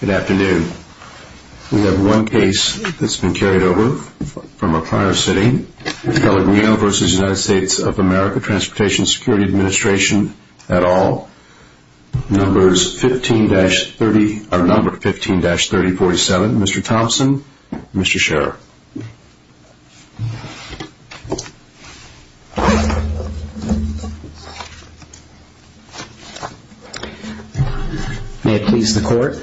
Good afternoon. We have one case that's been carried over from a prior sitting. Pellegrino v. USA Transportation Security Administration, etal. Numbers 15-30, or number 15-3047. Mr. Thompson, Mr. Scherer. May it please the court.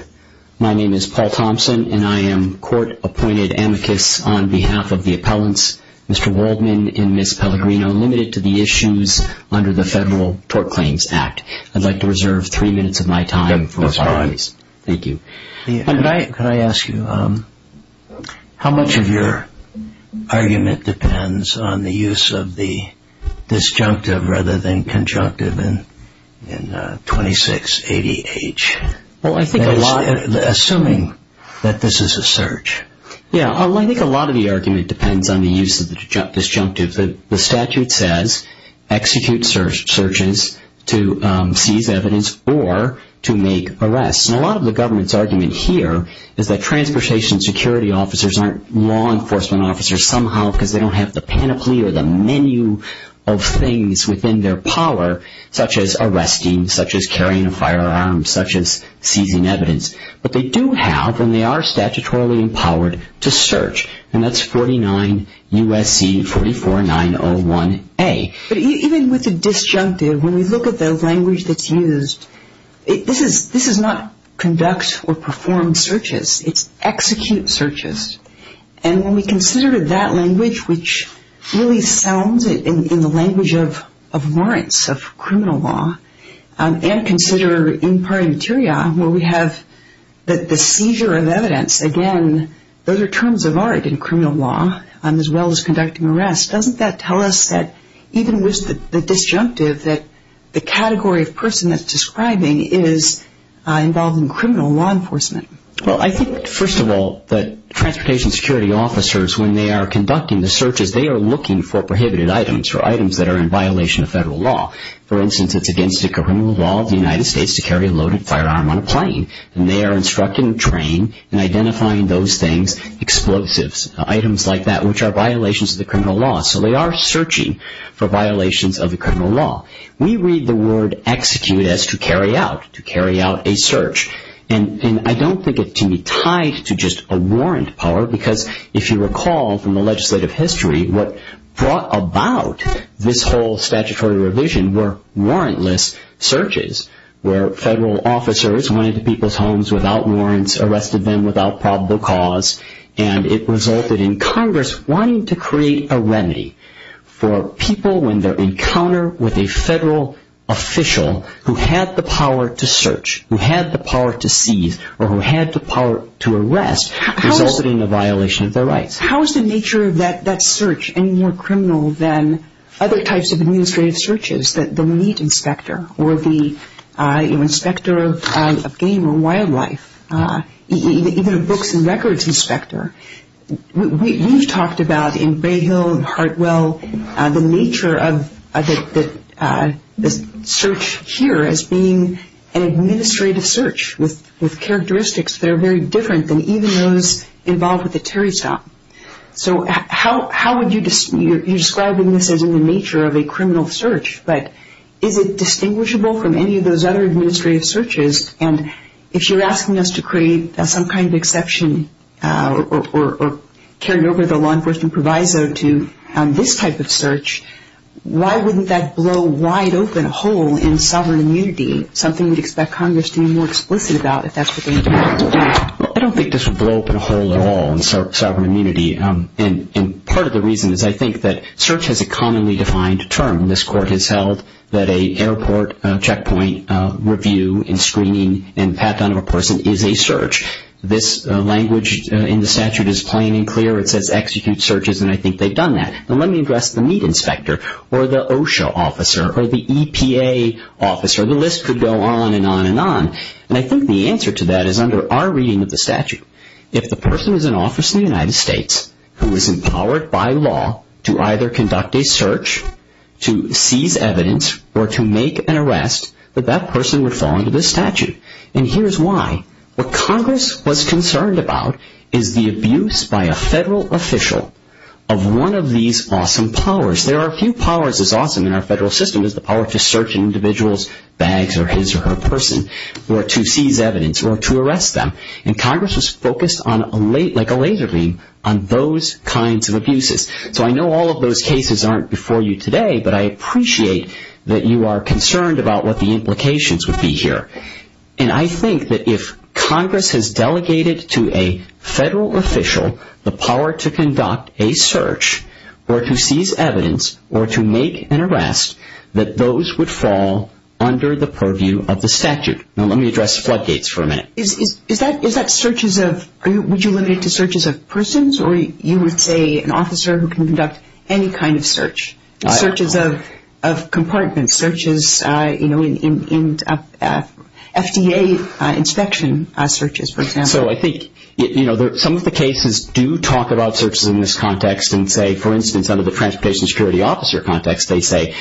My name is Paul Thompson and I am court appointed amicus on behalf of the appellants, Mr. Waldman and Ms. Pellegrino, limited to the issues under the Federal Tort Claims Act. I'd like to reserve three minutes of my time. Thank you. Could I ask you, how much of your argument depends on the use of the disjunctive rather than conjunctive in 2680H? Assuming that this is a search. Yeah, I think a lot of the argument depends on the use of the disjunctive. The statute says execute searches to seize evidence or to make arrests. A lot of the government's argument here is that transportation security officers aren't law enforcement officers somehow because they don't have the panoply or the menu of things within their power, such as arresting, such as carrying a firearm, such as seizing evidence. But they do have and they are statutorily empowered to search. And that's 49 U.S.C. 44901A. But even with the disjunctive, when we look at the language that's used, this is not conduct or perform searches. It's execute searches. And when we consider that language, which really sounds in the language of warrants, of criminal law, and consider in pari materia where we have the seizure of evidence, again, those are terms of art in criminal law as well as conducting arrests. Doesn't that tell us that even with the disjunctive that the category of person that's describing is involving criminal law enforcement? Well, I think, first of all, that transportation security officers, when they are conducting the searches, they are looking for prohibited items or items that are in violation of federal law. For instance, it's against the criminal law of the United States to carry a loaded firearm on a plane. And they are instructed and trained in identifying those things, explosives, items like that, which are violations of the criminal law. So they are searching for violations of the criminal law. We read the word execute as to carry out, to carry out a search. And I don't think it can be tied to just a warrant power, because if you recall from the legislative history, what brought about this whole statutory revision were warrantless searches, where federal officers went into people's homes without warrants, arrested them without probable cause. And it resulted in Congress wanting to create a remedy for people when they encounter with a federal official who had the power to search, who had the power to seize, or who had the power to arrest, resulted in a violation of their rights. How is the nature of that search any more criminal than other types of administrative searches, the meat inspector, or the inspector of game or wildlife, even a books and records inspector? We've talked about in Grayhill and Hartwell the nature of the search here as being an administrative search with characteristics that are very different than even those involved with the Terry stop. So how would you, you're describing this as in the nature of a criminal search, but is it distinguishable from any of those other administrative searches? And if you're asking us to create some kind of exception or carry over the law enforcement proviso to this type of search, why wouldn't that blow wide open a hole in sovereign immunity, something we'd expect Congress to be more explicit about if that's what they intend to do? I don't think this would blow open a hole at all in sovereign immunity. And part of the reason is I think that search has a commonly defined term. This court has held that an airport checkpoint review and screening and pat down of a person is a search. This language in the statute is plain and clear. It says execute searches, and I think they've done that. Now let me address the meat inspector or the OSHA officer or the EPA officer. The list could go on and on and on. And I think the answer to that is under our reading of the statute. If the person is in office in the United States who is empowered by law to either conduct a search, to seize evidence, or to make an arrest, that that person would fall under this statute. And here's why. What Congress was concerned about is the abuse by a federal official of one of these awesome powers. There are few powers as awesome in our federal system as the power to search an individual's bags or his or her person or to seize evidence or to arrest them. And Congress was focused like a laser beam on those kinds of abuses. So I know all of those cases aren't before you today, but I appreciate that you are concerned about what the implications would be here. And I think that if Congress has delegated to a federal official the power to conduct a search or to seize evidence or to make an arrest, that those would fall under the purview of the statute. Now let me address floodgates for a minute. Is that searches of, would you limit it to searches of persons or you would say an officer who can conduct any kind of search? Searches of compartments, searches in FDA inspection searches, for example. So I think some of the cases do talk about searches in this context and say, for instance, under the Transportation Security Officer context, they say,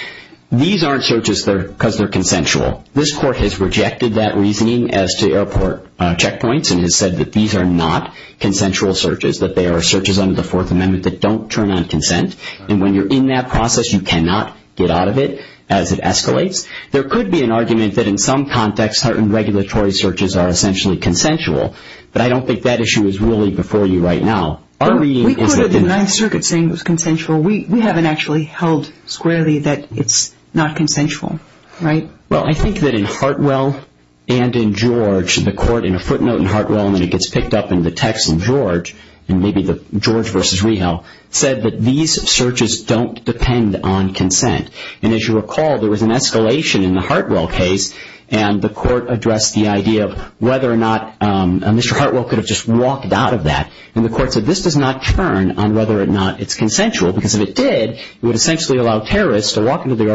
these aren't searches because they're consensual. This court has rejected that reasoning as to airport checkpoints and has said that these are not consensual searches, that they are searches under the Fourth Amendment that don't turn on consent. And when you're in that process, you cannot get out of it as it escalates. There could be an argument that in some context certain regulatory searches are essentially consensual, but I don't think that issue is really before you right now. Our reading is that the... We could have the United Circuit saying it was consensual. We haven't actually held squarely that it's not consensual, right? Well, I think that in Hartwell and in George, the court in a footnote in Hartwell, and then it gets picked up in the text in George, and maybe the George versus Rehal, said that these searches don't depend on consent. And as you recall, there was an escalation in the Hartwell case, and the court addressed the idea of whether or not Mr. Hartwell could have just walked out of that. And the court said this does not turn on whether or not it's consensual, because if it did, it would essentially allow terrorists to walk into the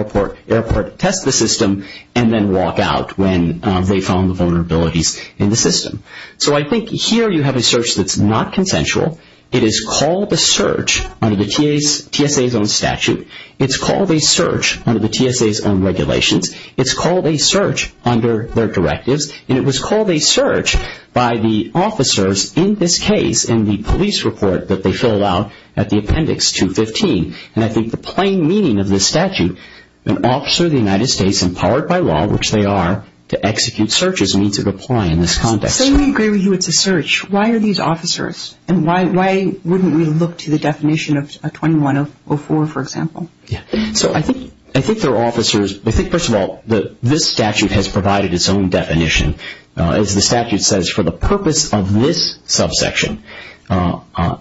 airport, test the system, and then walk out when they found the vulnerabilities in the system. So I think here you have a search that's not consensual. It is called a search under the TSA's own statute. It's called a search under the TSA's own regulations. It's called a search under their directives, and it was called a search by the officers in this case in the police report that they fill out at the appendix 215. And I think the plain meaning of this statute, an officer of the United States empowered by law, which they are, to execute searches needs to comply in this context. Say we agree with you it's a search. Why are these officers? And why wouldn't we look to the definition of 2104, for example? So I think there are officers, I think first of all this statute has provided its own definition. As the statute says, for the purpose of this subsection,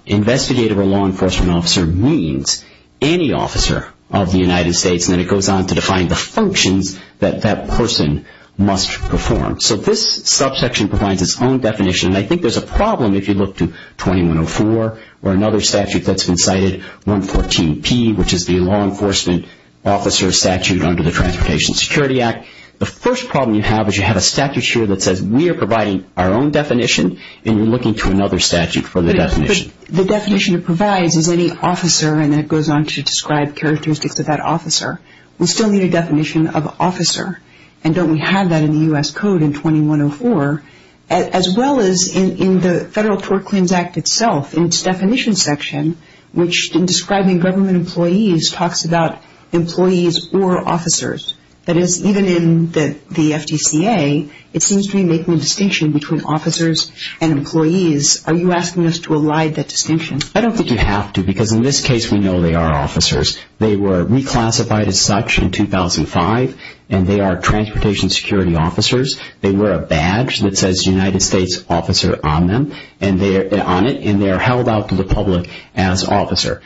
investigative or law enforcement officer means any officer of the United States. And then it goes on to define the functions that that person must perform. So this subsection provides its own definition, and I think there's a problem if you look to 2104 or another statute that's been cited, 114P, which is the law enforcement officer statute under the Transportation Security Act. The first problem you have is you have a statute here that says we are providing our own definition, and you're looking to another statute for the definition. But the definition it provides is any officer, and then it goes on to describe characteristics of that officer. We still need a definition of officer, and don't we have that in the U.S. Code in 2104? As well as in the Federal Tort Claims Act itself, in its definition section, which in describing government employees talks about employees or officers. That is, even in the FDCA, it seems to be making a distinction between officers and employees. Are you asking us to elide that distinction? I don't think you have to, because in this case we know they are officers. They were reclassified as such in 2005, and they are transportation security officers. They wear a badge that says United States officer on it, and they are held out to the public as officer.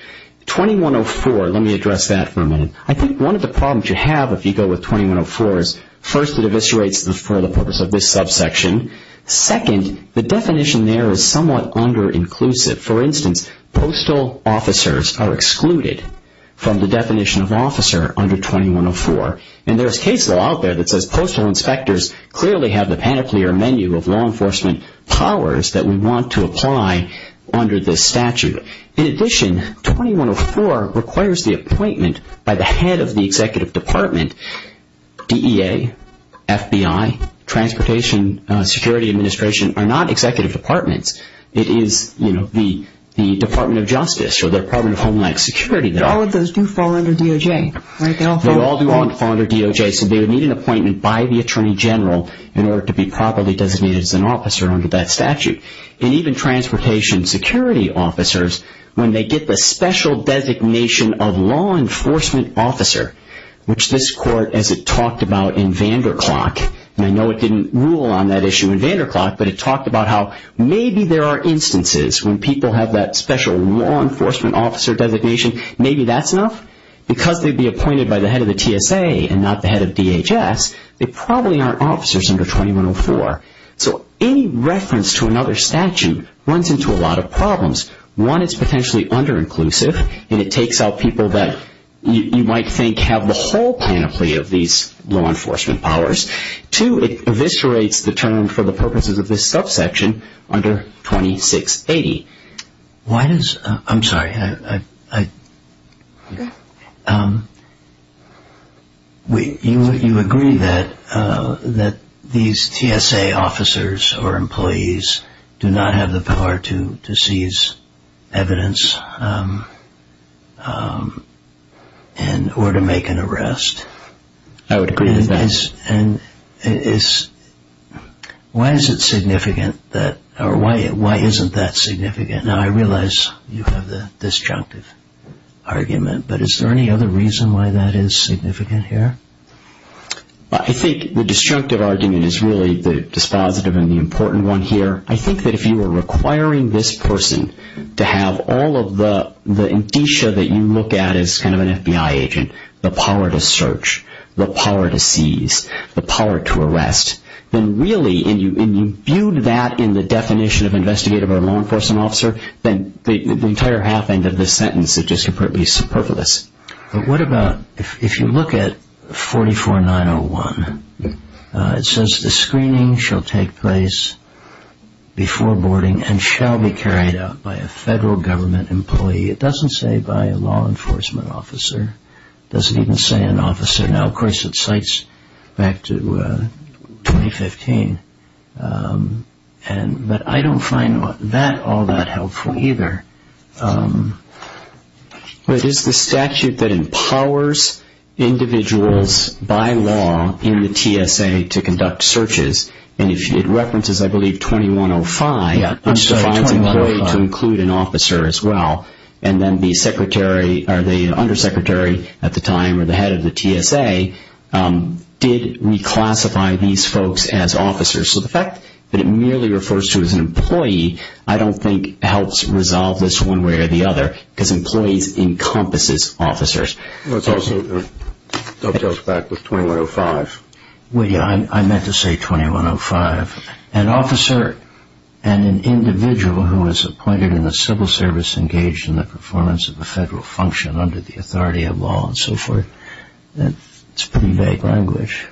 2104, let me address that for a minute. I think one of the problems you have if you go with 2104 is, first, it eviscerates for the purpose of this subsection. Second, the definition there is somewhat under-inclusive. For instance, postal officers are excluded from the definition of officer under 2104. There is case law out there that says postal inspectors clearly have the panoply or menu of law enforcement powers that we want to apply under this statute. In addition, 2104 requires the appointment by the head of the executive department. DEA, FBI, Transportation Security Administration are not executive departments. It is the Department of Justice or the Department of Homeland Security. All of those do fall under DOJ, right? They all do fall under DOJ, so they would need an appointment by the attorney general in order to be properly designated as an officer under that statute. Even transportation security officers, when they get the special designation of law enforcement officer, which this court, as it talked about in Vanderklok, and I know it didn't rule on that issue in Vanderklok, but it talked about how maybe there are instances when people have that special law enforcement officer designation. Maybe that's enough? Because they'd be appointed by the head of the TSA and not the head of DHS, they probably aren't officers under 2104. So any reference to another statute runs into a lot of problems. One, it's potentially under-inclusive, and it takes out people that you might think have the whole panoply of these law enforcement powers. Two, it eviscerates the term for the purposes of this subsection under 2680. I'm sorry. You agree that these TSA officers or employees do not have the power to seize evidence or to make an arrest? I would agree with that. Why is it significant, or why isn't that significant? Now, I realize you have the disjunctive argument, but is there any other reason why that is significant here? I think the disjunctive argument is really the dispositive and the important one here. I think that if you were requiring this person to have all of the indicia that you look at as kind of an FBI agent, the power to search, the power to seize, the power to arrest, then really, and you viewed that in the definition of investigative or law enforcement officer, then the entire half-end of this sentence is just completely superfluous. But what about if you look at 44901? It says the screening shall take place before boarding and shall be carried out by a federal government employee. It doesn't say by a law enforcement officer. It doesn't even say an officer. Now, of course, it cites back to 2015, but I don't find that all that helpful either. But it is the statute that empowers individuals by law in the TSA to conduct searches, and it references, I believe, 2105, which defines an employee to include an officer as well. And then the secretary, or the undersecretary at the time, or the head of the TSA, did reclassify these folks as officers. So the fact that it merely refers to as an employee, I don't think helps resolve this one way or the other, because employees encompasses officers. It also dovetails back with 2105. Well, yeah, I meant to say 2105. An officer and an individual who is appointed in a civil service engaged in the performance of a federal function under the authority of law and so forth, that's pretty vague language.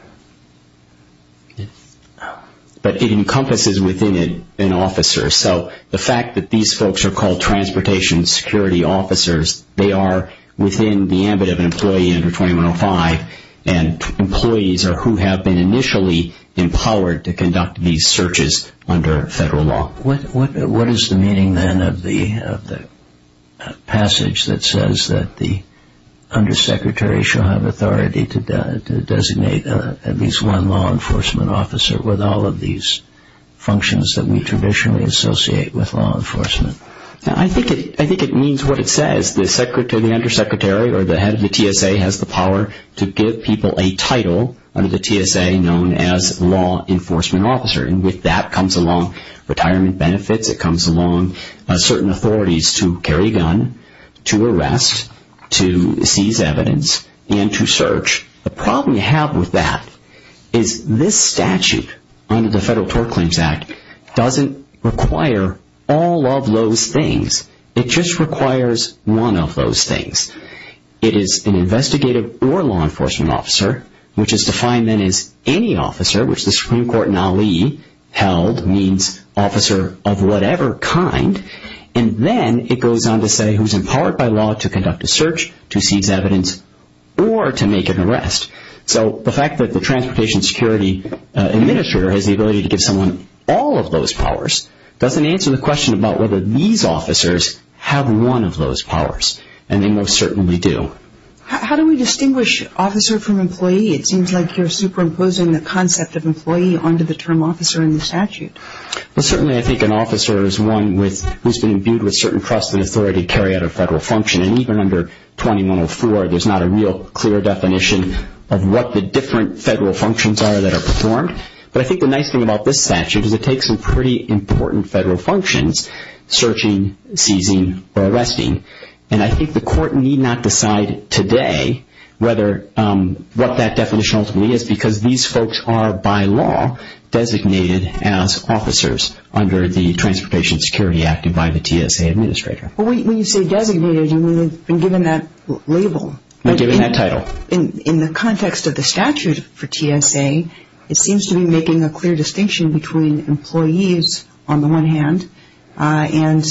But it encompasses within it an officer. So the fact that these folks are called transportation security officers, they are within the ambit of an employee under 2105, and employees are who have been initially empowered to conduct these searches under federal law. What is the meaning, then, of the passage that says that the undersecretary shall have authority to designate at least one law enforcement officer with all of these functions that we traditionally associate with law enforcement? I think it means what it says. The secretary, the undersecretary, or the head of the TSA, has the power to give people a title under the TSA known as law enforcement officer. And with that comes along retirement benefits, it comes along certain authorities to carry a gun, to arrest, to seize evidence, and to search. The problem you have with that is this statute under the Federal Tort Claims Act doesn't require all of those things. It just requires one of those things. It is an investigative or law enforcement officer, which is defined, then, as any officer, which the Supreme Court in Ali held means officer of whatever kind. And then it goes on to say who is empowered by law to conduct a search, to seize evidence, or to make an arrest. So the fact that the transportation security administrator has the ability to give someone all of those powers doesn't answer the question about whether these officers have one of those powers. And they most certainly do. So how do we distinguish officer from employee? It seems like you're superimposing the concept of employee onto the term officer in the statute. Well, certainly I think an officer is one who has been imbued with certain trust and authority to carry out a federal function. And even under 2104, there's not a real clear definition of what the different federal functions are that are performed. But I think the nice thing about this statute is it takes some pretty important federal functions, searching, seizing, or arresting. And I think the court need not decide today what that definition ultimately is because these folks are, by law, designated as officers under the Transportation Security Act and by the TSA administrator. Well, when you say designated, you mean they've been given that label. They've been given that title. In the context of the statute for TSA, it seems to be making a clear distinction between employees, on the one hand, and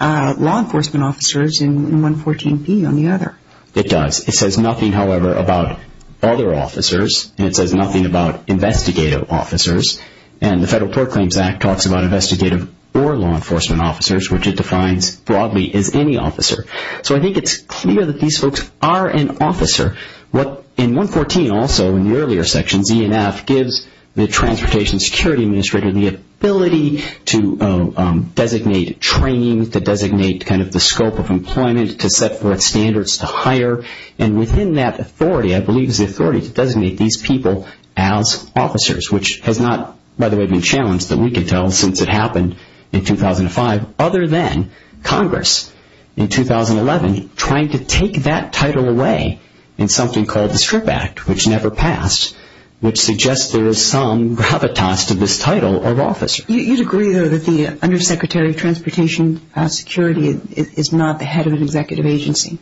law enforcement officers in 114P, on the other. It does. It says nothing, however, about other officers. And it says nothing about investigative officers. And the Federal Tort Claims Act talks about investigative or law enforcement officers, which it defines broadly as any officer. So I think it's clear that these folks are an officer. What in 114 also, in the earlier sections, E and F, gives the Transportation Security Administrator the ability to designate training, to designate kind of the scope of employment, to set forth standards to hire. And within that authority, I believe, is the authority to designate these people as officers, which has not, by the way, been challenged that we could tell since it happened in 2005, other than Congress in 2011 trying to take that title away in something called the Strip Act, which never passed, which suggests there is some gravitas to this title of officer. You'd agree, though, that the Undersecretary of Transportation Security is not the head of an executive agency?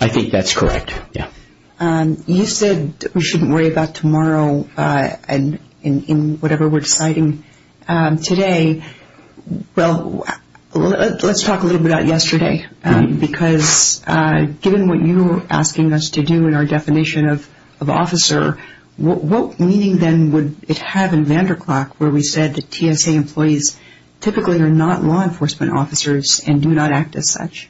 I think that's correct, yeah. You said we shouldn't worry about tomorrow in whatever we're deciding today. Well, let's talk a little bit about yesterday, because given what you were asking us to do in our definition of officer, what meaning then would it have in Vanderklok where we said that TSA employees typically are not law enforcement officers and do not act as such?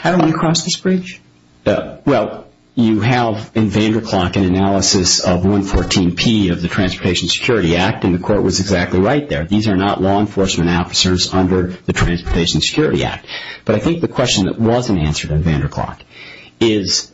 Haven't we crossed this bridge? Well, you have in Vanderklok an analysis of 114P of the Transportation Security Act, and the Court was exactly right there. These are not law enforcement officers under the Transportation Security Act. But I think the question that wasn't answered in Vanderklok is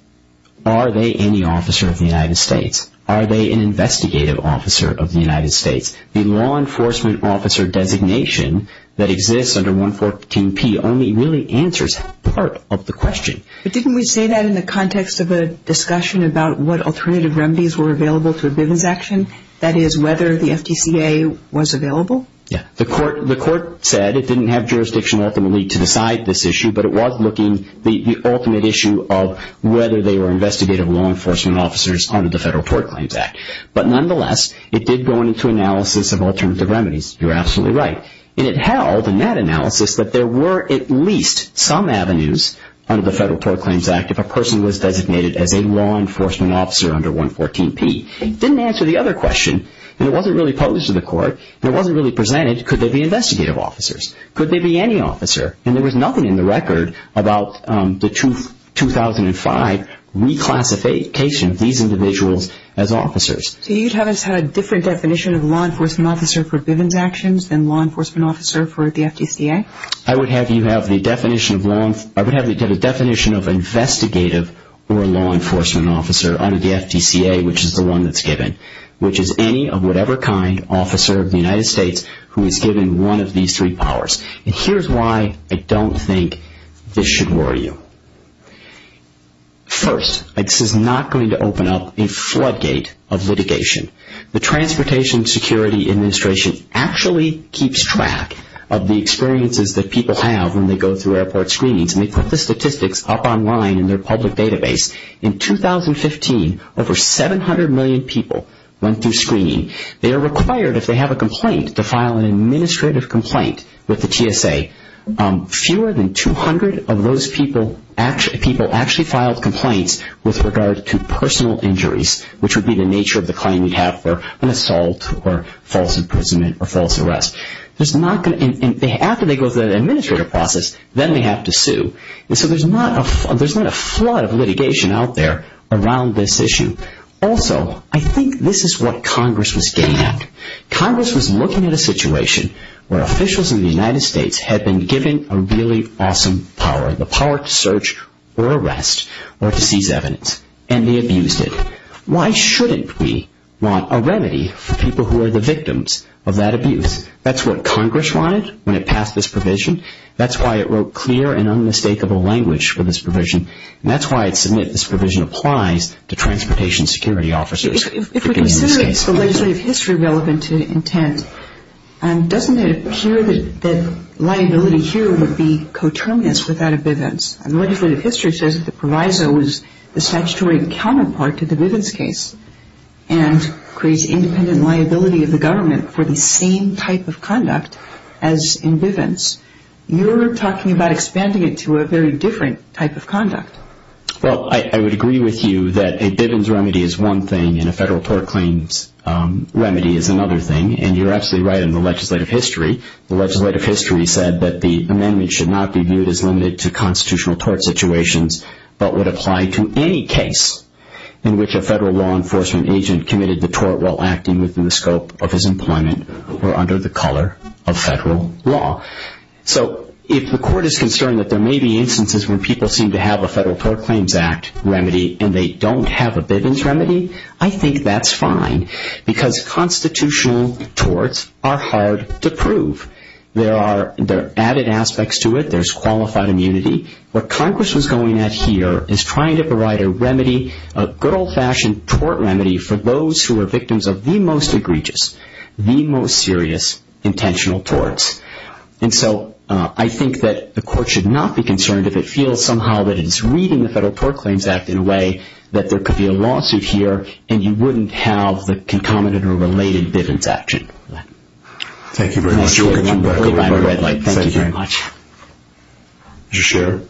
are they any officer of the United States? Are they an investigative officer of the United States? The law enforcement officer designation that exists under 114P only really answers part of the question. But didn't we say that in the context of a discussion about what alternative remedies were available to a business action? That is, whether the FTCA was available? Yeah. The Court said it didn't have jurisdiction ultimately to decide this issue, but it was looking at the ultimate issue of whether they were investigative law enforcement officers under the Federal Tort Claims Act. But nonetheless, it did go into analysis of alternative remedies. You're absolutely right. And it held in that analysis that there were at least some avenues under the Federal Tort Claims Act if a person was designated as a law enforcement officer under 114P. It didn't answer the other question, and it wasn't really posed to the Court, and it wasn't really presented. Could they be investigative officers? Could they be any officer? And there was nothing in the record about the 2005 reclassification of these individuals as officers. So you'd have us have a different definition of law enforcement officer for Bivens actions than law enforcement officer for the FTCA? I would have you have the definition of investigative or law enforcement officer under the FTCA, which is the one that's given, which is any of whatever kind officer of the United States who is given one of these three powers. And here's why I don't think this should worry you. First, this is not going to open up a floodgate of litigation. The Transportation Security Administration actually keeps track of the experiences that people have when they go through airport screenings, and they put the statistics up online in their public database. In 2015, over 700 million people went through screening. They are required, if they have a complaint, to file an administrative complaint with the TSA. Fewer than 200 of those people actually filed complaints with regard to personal injuries, which would be the nature of the claim you'd have for an assault or false imprisonment or false arrest. After they go through the administrative process, then they have to sue. So there's not a flood of litigation out there around this issue. Also, I think this is what Congress was getting at. Congress was looking at a situation where officials in the United States had been given a really awesome power, the power to search or arrest or to seize evidence, and they abused it. Why shouldn't we want a remedy for people who are the victims of that abuse? That's what Congress wanted when it passed this provision. That's why it wrote clear and unmistakable language for this provision, and that's why I submit this provision applies to transportation security officers. If we consider it's the legislative history relevant to intent, doesn't it appear that liability here would be coterminous with that of Bivens? The legislative history says that the proviso is the statutory counterpart to the Bivens case and creates independent liability of the government for the same type of conduct as in Bivens. You're talking about expanding it to a very different type of conduct. Well, I would agree with you that a Bivens remedy is one thing and a federal tort claims remedy is another thing, and you're absolutely right in the legislative history. The legislative history said that the amendment should not be viewed as limited to constitutional tort situations but would apply to any case in which a federal law enforcement agent committed the tort while acting within the scope of his employment or under the color of federal law. So if the court is concerned that there may be instances where people seem to have a federal tort claims act remedy and they don't have a Bivens remedy, I think that's fine because constitutional torts are hard to prove. There are added aspects to it. There's qualified immunity. What Congress was going at here is trying to provide a remedy, a good old-fashioned tort remedy for those who are victims of the most egregious, the most serious intentional torts. And so I think that the court should not be concerned if it feels somehow that it is reading the federal tort claims act in a way that there could be a lawsuit here and you wouldn't have the concomitant or related Bivens action. Thank you very much. Thank you very much. Did you share?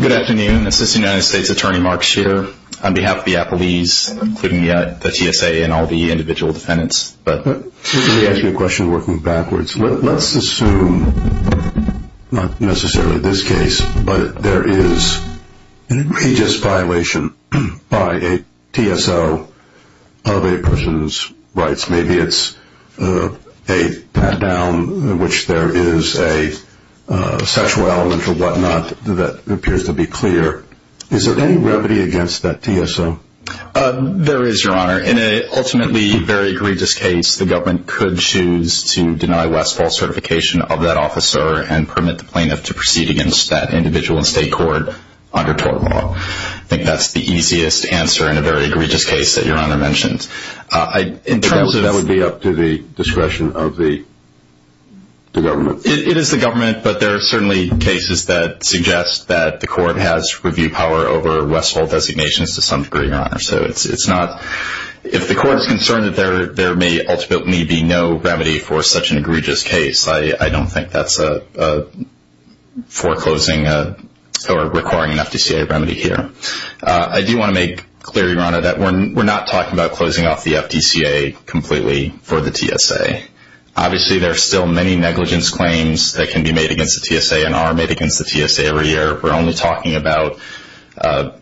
Good afternoon. Assistant United States Attorney Mark Shearer on behalf of the Applebee's, including the TSA and all the individual defendants. Let me ask you a question working backwards. Let's assume, not necessarily this case, but there is an egregious violation by a TSO of a person's rights. Maybe it's a pat-down in which there is a sexual element or whatnot that appears to be clear. Is there any remedy against that TSO? There is, Your Honor. In an ultimately very egregious case, the government could choose to deny Westfall certification of that officer and permit the plaintiff to proceed against that individual in state court under tort law. I think that's the easiest answer in a very egregious case that Your Honor mentioned. That would be up to the discretion of the government. It is the government, but there are certainly cases that suggest that the court has review power over Westfall designations to some degree, Your Honor. If the court is concerned that there may ultimately be no remedy for such an egregious case, I don't think that's a foreclosing or requiring an FDCA remedy here. I do want to make clear, Your Honor, that we're not talking about closing off the FDCA completely for the TSA. Obviously, there are still many negligence claims that can be made against the TSA and are made against the TSA every year. We're only talking about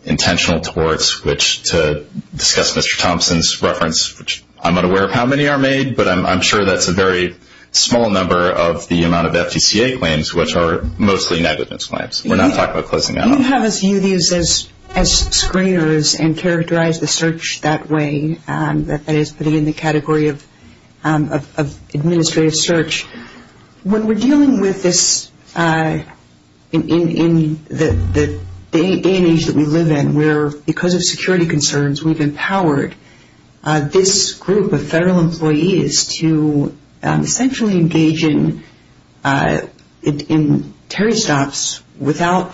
intentional torts, which to discuss Mr. Thompson's reference, which I'm not aware of how many are made, but I'm sure that's a very small number of the amount of FDCA claims, which are mostly negligence claims. We're not talking about closing that off. You have viewed these as screeners and characterized the search that way, that is, putting it in the category of administrative search. When we're dealing with this in the day and age that we live in, where because of security concerns we've empowered this group of federal employees to essentially engage in Terry stops without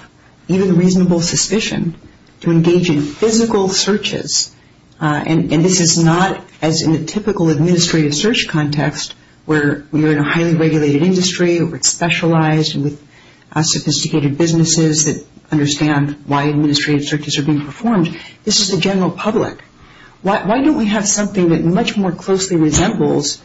even reasonable suspicion, to engage in physical searches, and this is not as in a typical administrative search context where you're in a highly regulated industry, where it's specialized and with sophisticated businesses that understand why administrative searches are being performed. This is the general public. Why don't we have something that much more closely resembles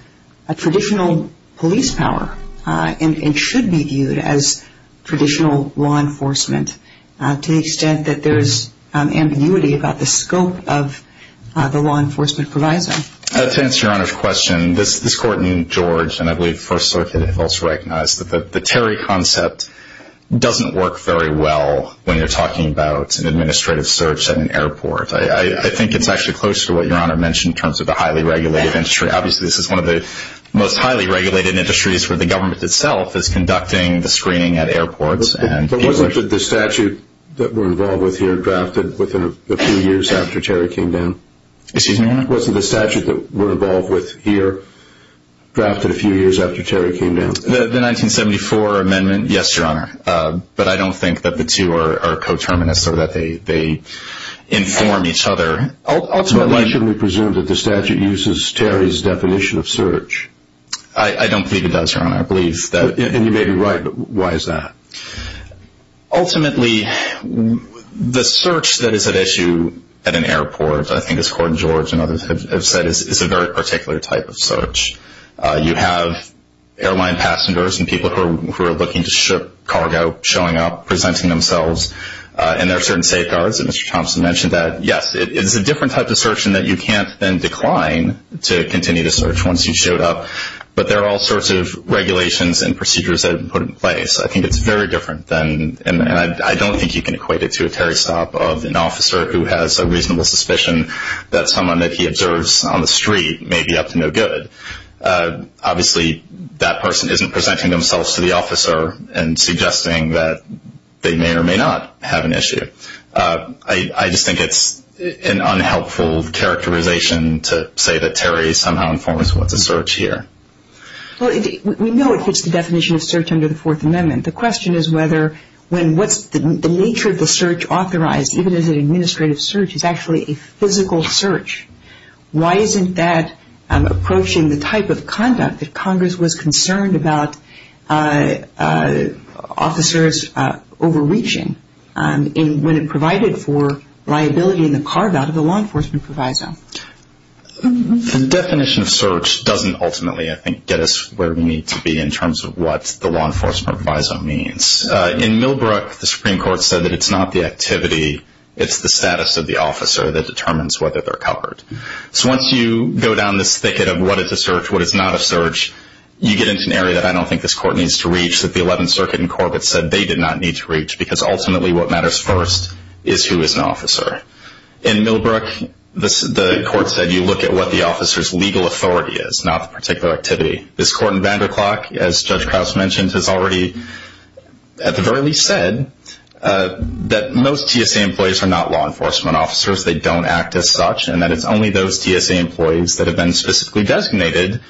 a traditional police power and should be viewed as traditional law enforcement to the extent that there's ambiguity about the scope of the law enforcement provisor? To answer Your Honor's question, this court in George and I believe First Circuit have also recognized that the Terry concept doesn't work very well when you're talking about an administrative search at an airport. I think it's actually closer to what Your Honor mentioned in terms of the highly regulated industry. Obviously, this is one of the most highly regulated industries where the government itself is conducting the screening at airports. But wasn't the statute that we're involved with here drafted within a few years after Terry came down? Excuse me, Your Honor? Wasn't the statute that we're involved with here drafted a few years after Terry came down? The 1974 amendment, yes, Your Honor, but I don't think that the two are coterminous or that they inform each other. Ultimately, shouldn't we presume that the statute uses Terry's definition of search? I don't believe it does, Your Honor. And you may be right, but why is that? Ultimately, the search that is at issue at an airport, I think as court in George and others have said, is a very particular type of search. You have airline passengers and people who are looking to ship cargo showing up, presenting themselves, and there are certain safeguards that Mr. Thompson mentioned that, yes, it's a different type of search in that you can't then decline to continue to search once you've showed up. But there are all sorts of regulations and procedures that have been put in place. I think it's very different, and I don't think you can equate it to a Terry stop of an officer who has a reasonable suspicion that someone that he observes on the street may be up to no good. Obviously, that person isn't presenting themselves to the officer and suggesting that they may or may not have an issue. I just think it's an unhelpful characterization to say that Terry somehow informs what's a search here. Well, we know it fits the definition of search under the Fourth Amendment. The question is whether when what's the nature of the search authorized, even as an administrative search, is actually a physical search. Why isn't that approaching the type of conduct that Congress was concerned about officers overreaching when it provided for liability in the carve-out of the law enforcement proviso? The definition of search doesn't ultimately, I think, get us where we need to be in terms of what the law enforcement proviso means. In Millbrook, the Supreme Court said that it's not the activity, it's the status of the officer that determines whether they're covered. So once you go down this thicket of what is a search, what is not a search, you get into an area that I don't think this Court needs to reach that the Eleventh Circuit in Corbett said they did not need to reach because ultimately what matters first is who is an officer. In Millbrook, the Court said you look at what the officer's legal authority is, not the particular activity. This Court in Vanderklok, as Judge Krause mentioned, has already at the very least said that most TSA employees are not law enforcement officers, they don't act as such, and that it's only those TSA employees that have been specifically designated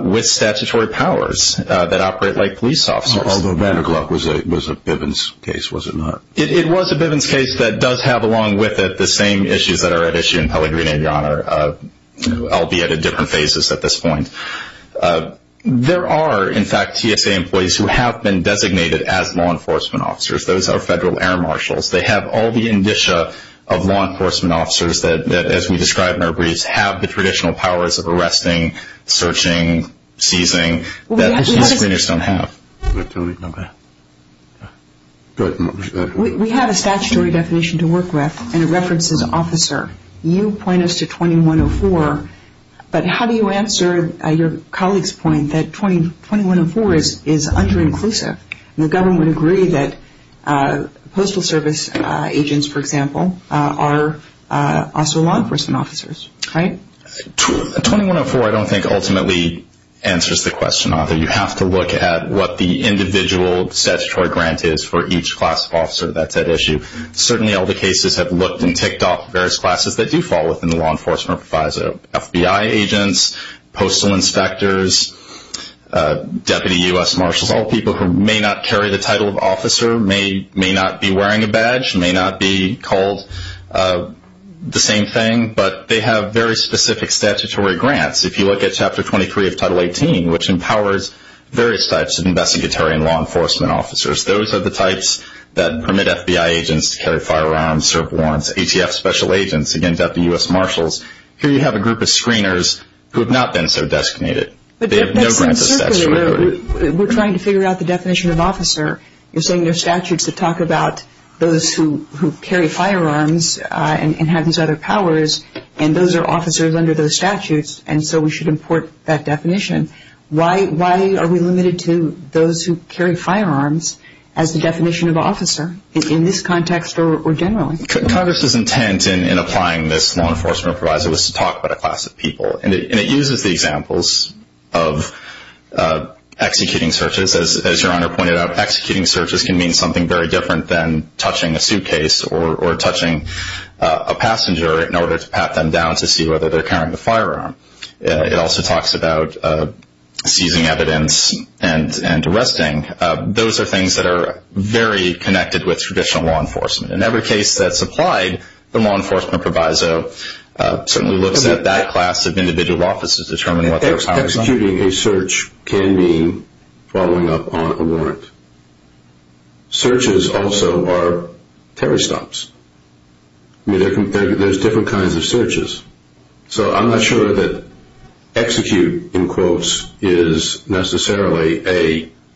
with statutory powers that operate like police officers. Although Vanderklok was a Bivens case, was it not? It was a Bivens case that does have along with it the same issues that are at issue in Pellegrino, Your Honor, albeit at different phases at this point. There are, in fact, TSA employees who have been designated as law enforcement officers. Those are federal air marshals. They have all the indicia of law enforcement officers that, as we described in our briefs, have the traditional powers of arresting, searching, seizing, that most police don't have. Good. We have a statutory definition to work with, and it references officer. You point us to 2104, but how do you answer your colleague's point that 2104 is under-inclusive? The government would agree that postal service agents, for example, are also law enforcement officers, right? 2104, I don't think, ultimately answers the question. You have to look at what the individual statutory grant is for each class of officer. That's at issue. Certainly all the cases have looked and ticked off various classes that do fall within the law enforcement proviso. FBI agents, postal inspectors, deputy U.S. marshals, all people who may not carry the title of officer, may not be wearing a badge, may not be called the same thing, but they have very specific statutory grants. If you look at Chapter 23 of Title 18, which empowers various types of investigatory and law enforcement officers, those are the types that permit FBI agents to carry firearms, serve warrants, ATF special agents, again, deputy U.S. marshals. Here you have a group of screeners who have not been so designated. They have no grant of statutory. We're trying to figure out the definition of officer. You're saying there are statutes that talk about those who carry firearms and have these other powers, and those are officers under those statutes, and so we should import that definition. Why are we limited to those who carry firearms as the definition of officer in this context or generally? Congress's intent in applying this law enforcement proviso was to talk about a class of people, and it uses the examples of executing searches. As Your Honor pointed out, executing searches can mean something very different than touching a suitcase or touching a passenger in order to pat them down to see whether they're carrying a firearm. It also talks about seizing evidence and arresting. Those are things that are very connected with traditional law enforcement. In every case that's applied, the law enforcement proviso certainly looks at that class of individual officers determining what their powers are. Searches also are terror stops. There's different kinds of searches. So I'm not sure that execute, in quotes, is necessarily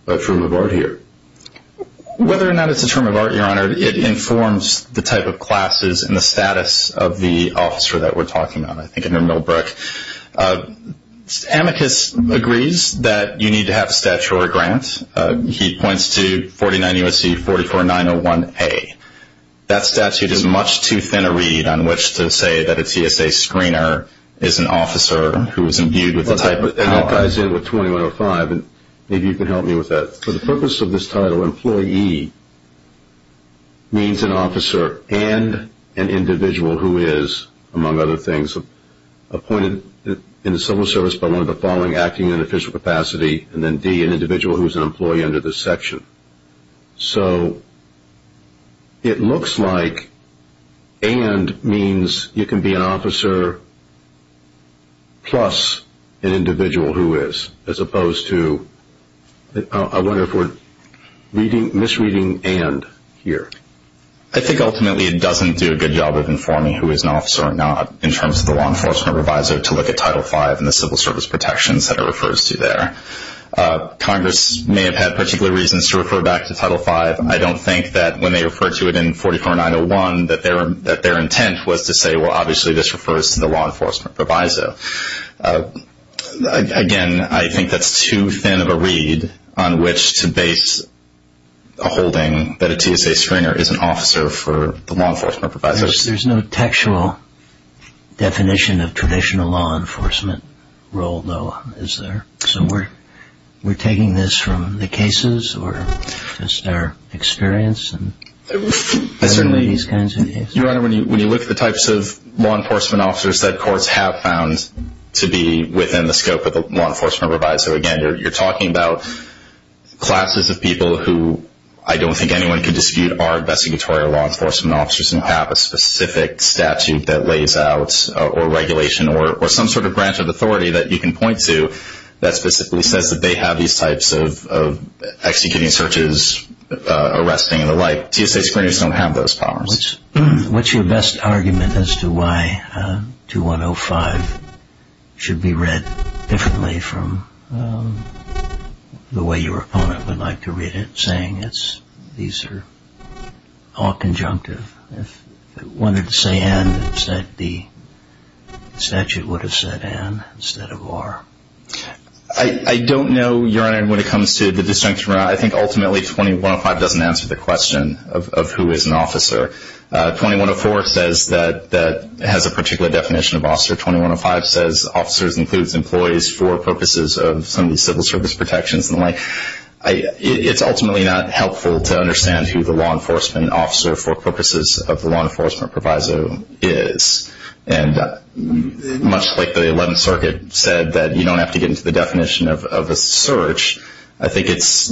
a term of art here. Whether or not it's a term of art, Your Honor, it informs the type of classes and the status of the officer that we're talking about, I think under Millbrook. Amicus agrees that you need to have a statutory grant. He points to 49 U.S.C. 44901A. That statute is much too thin a read on which to say that a TSA screener is an officer who is imbued with the type of power. I agree with 2105, and maybe you can help me with that. For the purpose of this title, employee means an officer and an individual who is, among other things, appointed in the civil service by one of the following acting in an official capacity, and then D, an individual who is an employee under this section. So it looks like and means you can be an officer plus an individual who is, as opposed to I wonder if we're misreading and here. I think ultimately it doesn't do a good job of informing who is an officer or not in terms of the law enforcement advisor to look at Title V and the civil service protections that it refers to there. Congress may have had particular reasons to refer back to Title V. I don't think that when they referred to it in 44901 that their intent was to say, well, obviously this refers to the law enforcement advisor. Again, I think that's too thin of a read on which to base a holding that a TSA screener is an officer for the law enforcement advisor. There's no textual definition of traditional law enforcement role, though, is there? So we're taking this from the cases or just our experience in these kinds of cases? Your Honor, when you look at the types of law enforcement officers that courts have found to be within the scope of the law enforcement advisor, again, you're talking about classes of people who I don't think anyone could dispute are investigatory or law enforcement officers and have a specific statute that lays out or regulation or some sort of branch of authority that you can point to that specifically says that they have these types of executing searches, arresting, and the like. TSA screeners don't have those powers. What's your best argument as to why 2105 should be read differently from the way your opponent would like to read it, saying these are all conjunctive? If it wanted to say N, the statute would have said N instead of R. I don't know, Your Honor, when it comes to the distinction. I think ultimately 2105 doesn't answer the question of who is an officer. 2104 says that it has a particular definition of officer. 2105 says officers includes employees for purposes of some of these civil service protections and the like. It's ultimately not helpful to understand who the law enforcement officer for purposes of the law enforcement proviso is, and much like the 11th Circuit said that you don't have to get into the definition of a search, I think it's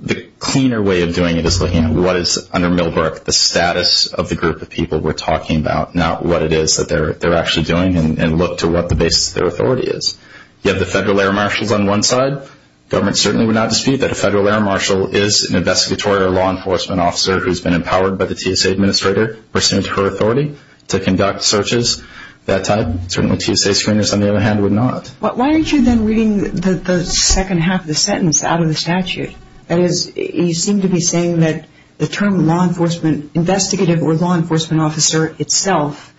the cleaner way of doing it is looking at what is under Milbrook the status of the group of people we're talking about, not what it is that they're actually doing, and look to what the basis of their authority is. You have the federal air marshals on one side. Government certainly would not dispute that a federal air marshal is an investigatory or law enforcement officer who's been empowered by the TSA administrator, pursuant to her authority, to conduct searches. That type, certainly TSA screeners, on the other hand, would not. Why aren't you then reading the second half of the sentence out of the statute? That is, you seem to be saying that the term law enforcement investigative or law enforcement officer itself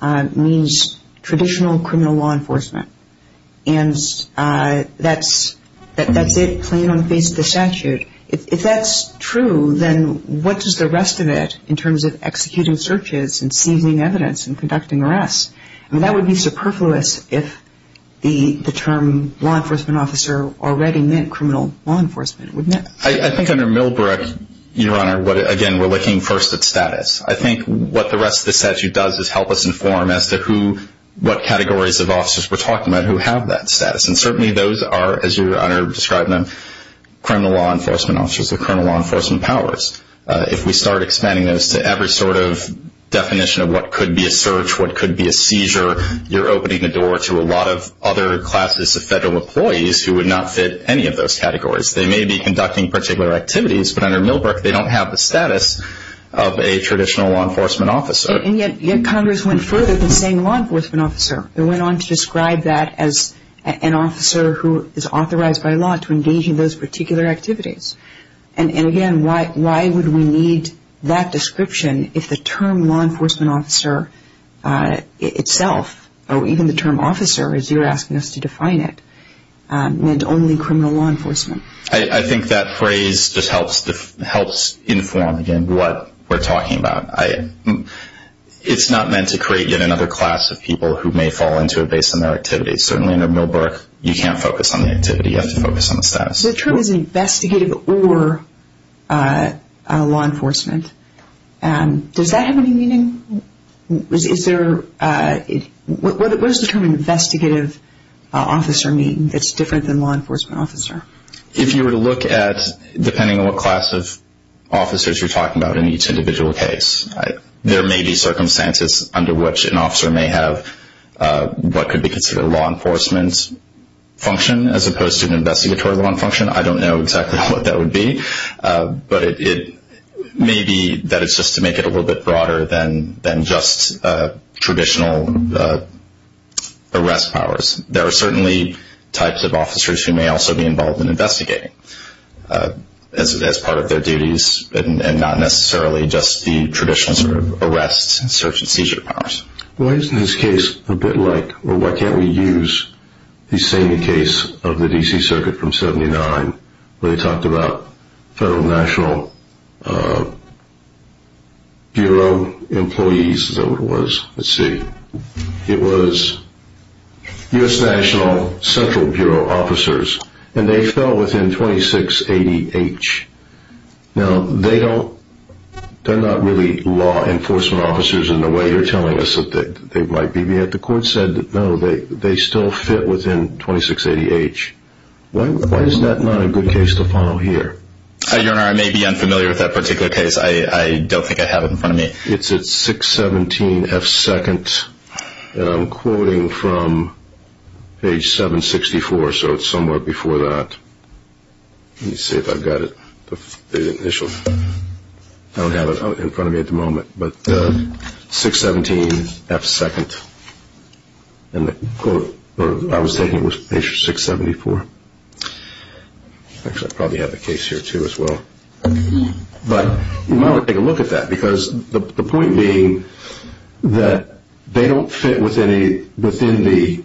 means traditional criminal law enforcement, and that's it plain on the face of the statute. If that's true, then what does the rest of it, in terms of executing searches and seizing evidence and conducting arrests, that would be superfluous if the term law enforcement officer already meant criminal law enforcement. I think under Milbrook, Your Honor, again, we're looking first at status. I think what the rest of the statute does is help us inform as to what categories of officers we're talking about who have that status, and certainly those are, as Your Honor described them, criminal law enforcement officers or criminal law enforcement powers. If we start expanding those to every sort of definition of what could be a search, what could be a seizure, you're opening the door to a lot of other classes of federal employees who would not fit any of those categories. They may be conducting particular activities, but under Milbrook, they don't have the status of a traditional law enforcement officer. Yet Congress went further than saying law enforcement officer. They went on to describe that as an officer who is authorized by law to engage in those particular activities. And again, why would we need that description if the term law enforcement officer itself, or even the term officer as you're asking us to define it, meant only criminal law enforcement? I think that phrase just helps inform, again, what we're talking about. It's not meant to create yet another class of people who may fall into a base in their activities. Certainly under Milbrook, you can't focus on the activity. You have to focus on the status. So the term is investigative or law enforcement. Does that have any meaning? What does the term investigative officer mean that's different than law enforcement officer? If you were to look at, depending on what class of officers you're talking about in each individual case, there may be circumstances under which an officer may have what could be considered a law enforcement function as opposed to an investigatory law function. I don't know exactly what that would be, but it may be that it's just to make it a little bit broader than just traditional arrest powers. There are certainly types of officers who may also be involved in investigating as part of their duties and not necessarily just the traditional sort of arrest, search, and seizure powers. Why isn't this case a bit like, or why can't we use the same case of the D.C. Circuit from 1979 where they talked about Federal National Bureau employees? Is that what it was? Let's see. It was U.S. National Central Bureau officers, and they fell within 2680H. Now, they're not really law enforcement officers in the way you're telling us that they might be. The court said, no, they still fit within 2680H. Why is that not a good case to follow here? Your Honor, I may be unfamiliar with that particular case. I don't think I have it in front of me. It's at 617F2, and I'm quoting from page 764, so it's somewhere before that. Let me see if I've got it, the initial. I don't have it in front of me at the moment, but 617F2, and I was taking it with page 674. Actually, I probably have the case here too as well. But you might want to take a look at that because the point being that they don't fit within the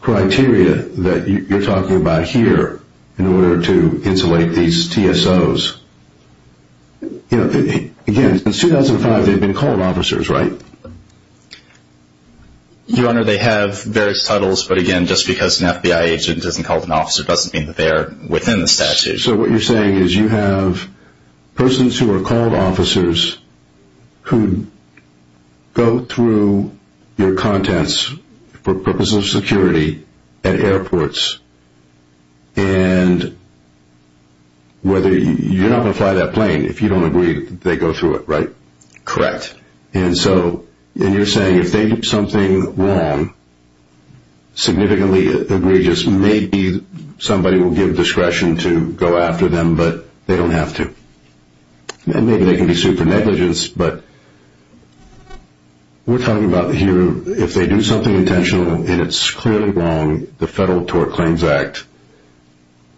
criteria that you're talking about here in order to insulate these TSOs. Again, in 2005, they've been called officers, right? Your Honor, they have various titles, but again, just because an FBI agent isn't called an officer doesn't mean that they are within the statute. So what you're saying is you have persons who are called officers who go through your contents for purposes of security at airports, and you're not going to fly that plane if you don't agree that they go through it, right? Correct. And so you're saying if they do something wrong, significantly egregious, maybe somebody will give discretion to go after them, but they don't have to. Maybe they can be sued for negligence, but we're talking about here if they do something intentional and it's clearly wrong, the Federal Tort Claims Act,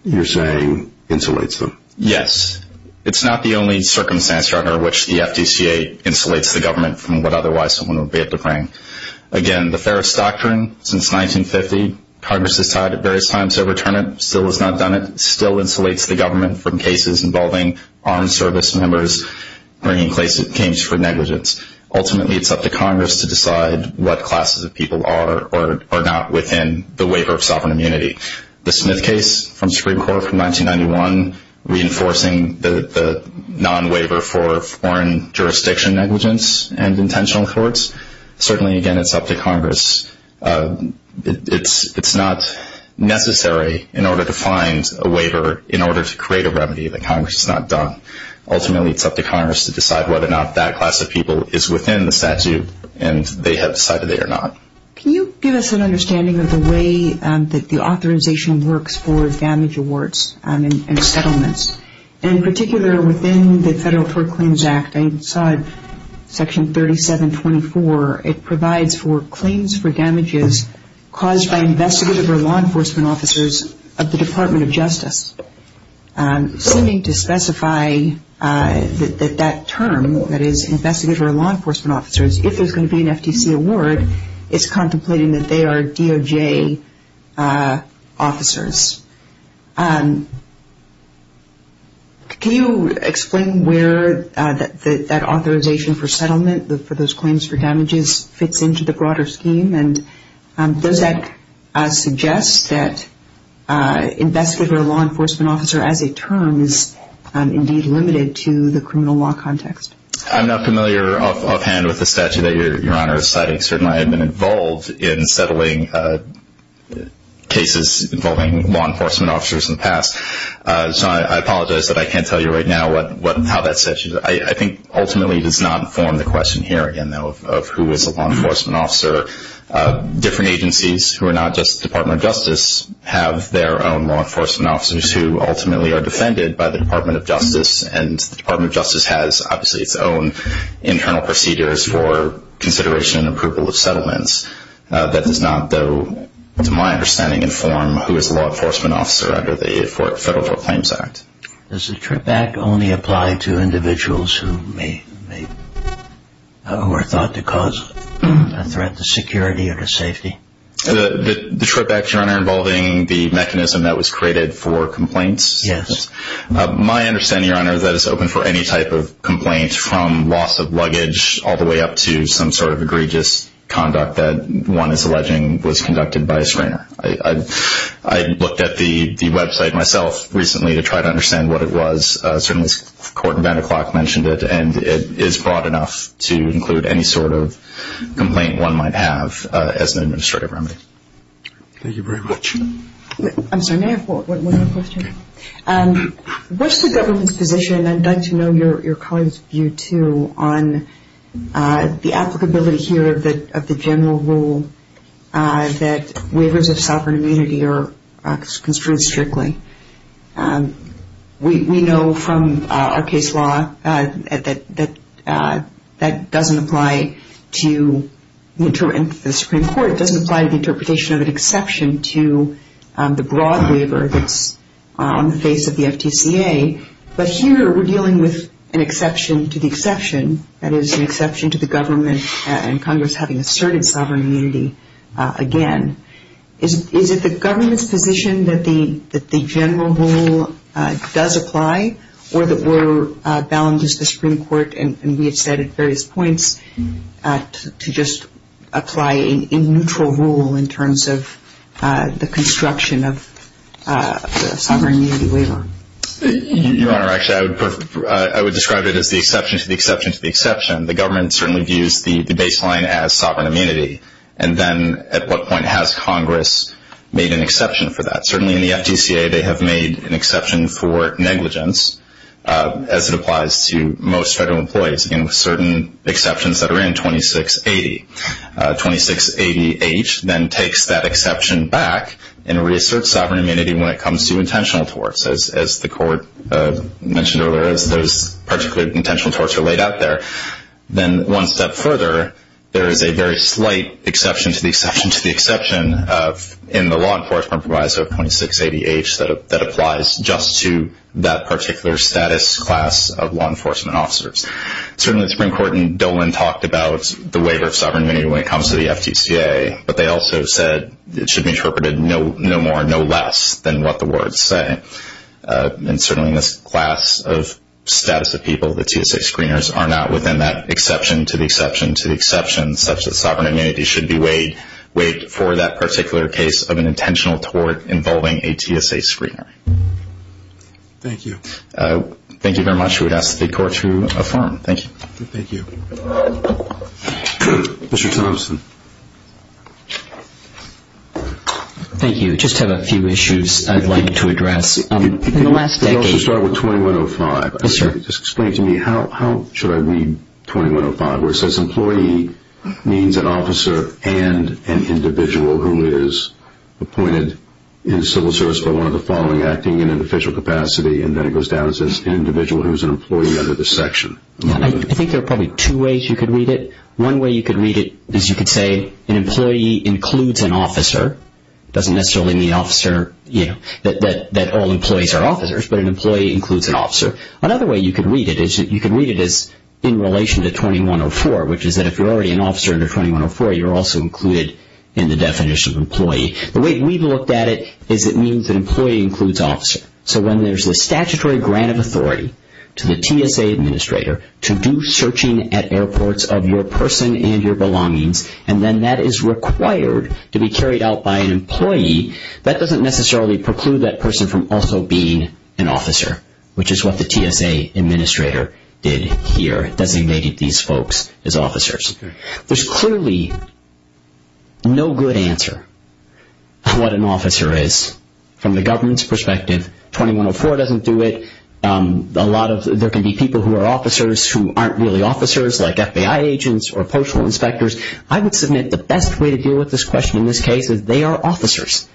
you're saying, insulates them. Yes. It's not the only circumstance, Your Honor, in which the FDCA insulates the government from what otherwise someone would be able to bring. Again, the Ferris Doctrine, since 1950, Congress has tried at various times to overturn it, still has not done it, still insulates the government from cases involving armed service members bringing claims for negligence. Ultimately, it's up to Congress to decide what classes of people are or are not within the waiver of sovereign immunity. The Smith case from the Supreme Court from 1991, reinforcing the non-waiver for foreign jurisdiction negligence and intentional torts, it's not necessary in order to find a waiver in order to create a remedy that Congress has not done. Ultimately, it's up to Congress to decide whether or not that class of people is within the statute and they have decided they are not. Can you give us an understanding of the way that the authorization works for damage awards and settlements? In particular, within the Federal Tort Claims Act, I saw it, Section 3724, it provides for claims for damages caused by investigative or law enforcement officers of the Department of Justice. Seeming to specify that that term, that is investigative or law enforcement officers, if there's going to be an FTC award, it's contemplating that they are DOJ officers. Can you explain where that authorization for settlement for those claims for damages fits into the broader scheme and does that suggest that investigative or law enforcement officer as a term is indeed limited to the criminal law context? I'm not familiar offhand with the statute that Your Honor is citing. Certainly, I have been involved in settling cases involving law enforcement officers in the past. So I apologize that I can't tell you right now how that statute is. I think ultimately it does not form the question here again, though, of who is a law enforcement officer. Different agencies who are not just the Department of Justice have their own law enforcement officers and the Department of Justice has obviously its own internal procedures for consideration and approval of settlements. That does not, though, to my understanding, inform who is a law enforcement officer under the Federal Tort Claims Act. Does the TRIP Act only apply to individuals who are thought to cause a threat to security or to safety? The TRIP Act, Your Honor, involving the mechanism that was created for complaints? Yes. My understanding, Your Honor, is that it's open for any type of complaint from loss of luggage all the way up to some sort of egregious conduct that one is alleging was conducted by a screener. I looked at the website myself recently to try to understand what it was. Certainly, Court in Vanderklok mentioned it, and it is broad enough to include any sort of complaint one might have as an administrative remedy. Thank you very much. I'm sorry, may I have one more question? What's the government's position, and I'd like to know your colleagues' view, too, on the applicability here of the general rule that waivers of sovereign immunity are construed strictly? We know from our case law that that doesn't apply to the Supreme Court. It doesn't apply to the interpretation of an exception to the broad waiver that's on the face of the FTCA, but here we're dealing with an exception to the exception, that is, an exception to the government and Congress having asserted sovereign immunity again. Is it the government's position that the general rule does apply, or that we're bound as the Supreme Court, and we have said at various points, to just apply a neutral rule in terms of the construction of a sovereign immunity waiver? Your Honor, actually, I would describe it as the exception to the exception to the exception. The government certainly views the baseline as sovereign immunity, and then at what point has Congress made an exception for that? Certainly in the FTCA they have made an exception for negligence, as it applies to most federal employees, and with certain exceptions that are in 2680. 2680H then takes that exception back and reasserts sovereign immunity when it comes to intentional torts, as the Court mentioned earlier, as those particular intentional torts are laid out there. Then one step further, there is a very slight exception to the exception to the exception in the law enforcement proviso of 2680H that applies just to that particular status class of law enforcement officers. Certainly the Supreme Court in Dolan talked about the waiver of sovereign immunity when it comes to the FTCA, but they also said it should be interpreted no more, no less than what the words say. And certainly in this class of status of people, the TSA screeners are not within that exception to the exception to the exception, such that sovereign immunity should be waived for that particular case of an intentional tort involving a TSA screener. Thank you. Thank you very much. I would ask the Court to affirm. Thank you. Thank you. Mr. Thompson. Thank you. I just have a few issues I'd like to address. In the last decade. Let's start with 2105. Yes, sir. Just explain to me, how should I read 2105? Where it says employee means an officer and an individual who is appointed in civil service for one of the following acting in an official capacity, and then it goes down and says an individual who is an employee under this section. I think there are probably two ways you could read it. One way you could read it is you could say an employee includes an officer. It doesn't necessarily mean officer, you know, that all employees are officers, but an employee includes an officer. Another way you could read it is you could read it as in relation to 2104, which is that if you're already an officer under 2104, you're also included in the definition of employee. The way we've looked at it is it means an employee includes officer. So when there's a statutory grant of authority to the TSA administrator to do searching at airports of your person and your belongings, and then that is required to be carried out by an employee, that doesn't necessarily preclude that person from also being an officer, which is what the TSA administrator did here, designated these folks as officers. There's clearly no good answer on what an officer is from the government's perspective. 2104 doesn't do it. There can be people who are officers who aren't really officers, like FBI agents or postal inspectors. I would submit the best way to deal with this question in this case is they are officers,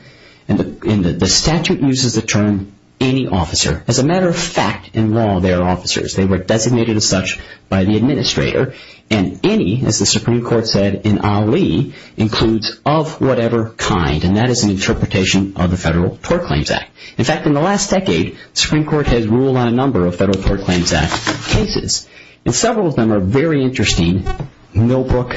and the statute uses the term any officer. As a matter of fact, in law, they are officers. They were designated as such by the administrator, and any, as the Supreme Court said in Ali, includes of whatever kind, and that is an interpretation of the Federal Tort Claims Act. In fact, in the last decade, the Supreme Court has ruled on a number of Federal Tort Claims Act cases, and several of them are very interesting. Millbrook,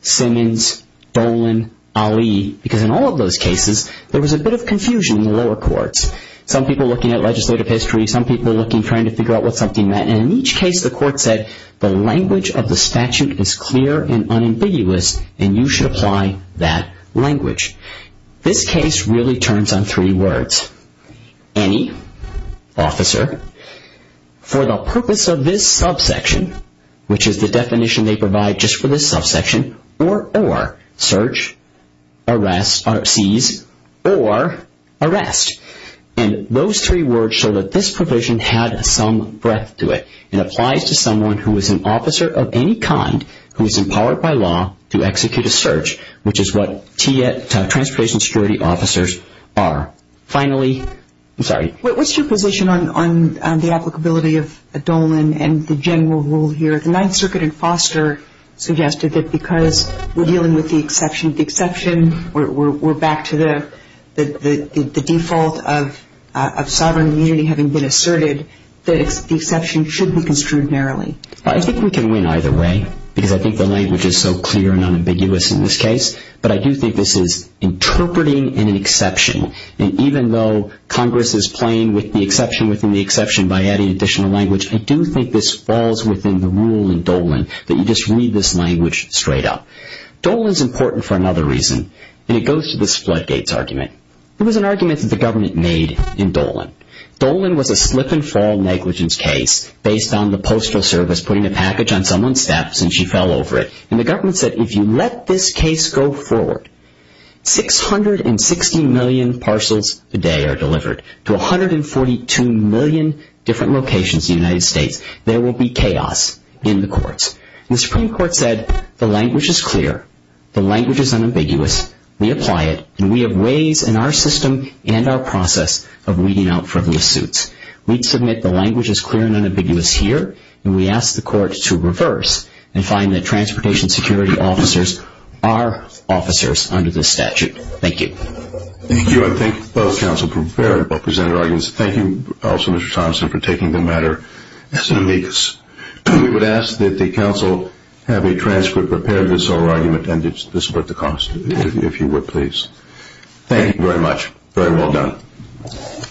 Simmons, Dolan, Ali, because in all of those cases, there was a bit of confusion in the lower courts. Some people looking at legislative history. Some people looking, trying to figure out what something meant, and in each case, the court said the language of the statute is clear and unambiguous, and you should apply that language. This case really turns on three words. Any, officer, for the purpose of this subsection, which is the definition they provide just for this subsection, or search, arrest, or seize, or arrest. And those three words show that this provision had some breadth to it. It applies to someone who is an officer of any kind who is empowered by law to execute a search, which is what transportation security officers are. Finally, I'm sorry. What's your position on the applicability of Dolan and the general rule here? The Ninth Circuit in Foster suggested that because we're dealing with the exception, we're back to the default of sovereign immunity having been asserted, that the exception should be construed narrowly. I think we can win either way, because I think the language is so clear and unambiguous in this case, but I do think this is interpreting an exception, and even though Congress is playing with the exception within the exception by adding additional language, I do think this falls within the rule in Dolan that you just read this language straight up. Dolan's important for another reason, and it goes to this floodgates argument. It was an argument that the government made in Dolan. Dolan was a slip-and-fall negligence case based on the Postal Service putting a package on someone's steps, and she fell over it, and the government said, if you let this case go forward, 660 million parcels a day are delivered to 142 million different locations in the United States. There will be chaos in the courts. The Supreme Court said the language is clear, the language is unambiguous, we apply it, and we have ways in our system and our process of weeding out frivolous suits. We'd submit the language is clear and unambiguous here, and we ask the courts to reverse and find that transportation security officers are officers under this statute. Thank you. Thank you, and thank you to both counsel for presenting their arguments. Thank you also, Mr. Thompson, for taking the matter as an amicus. We would ask that the counsel have a transcript prepared of this whole argument and to support the cause, if you would, please. Thank you very much. Very well done.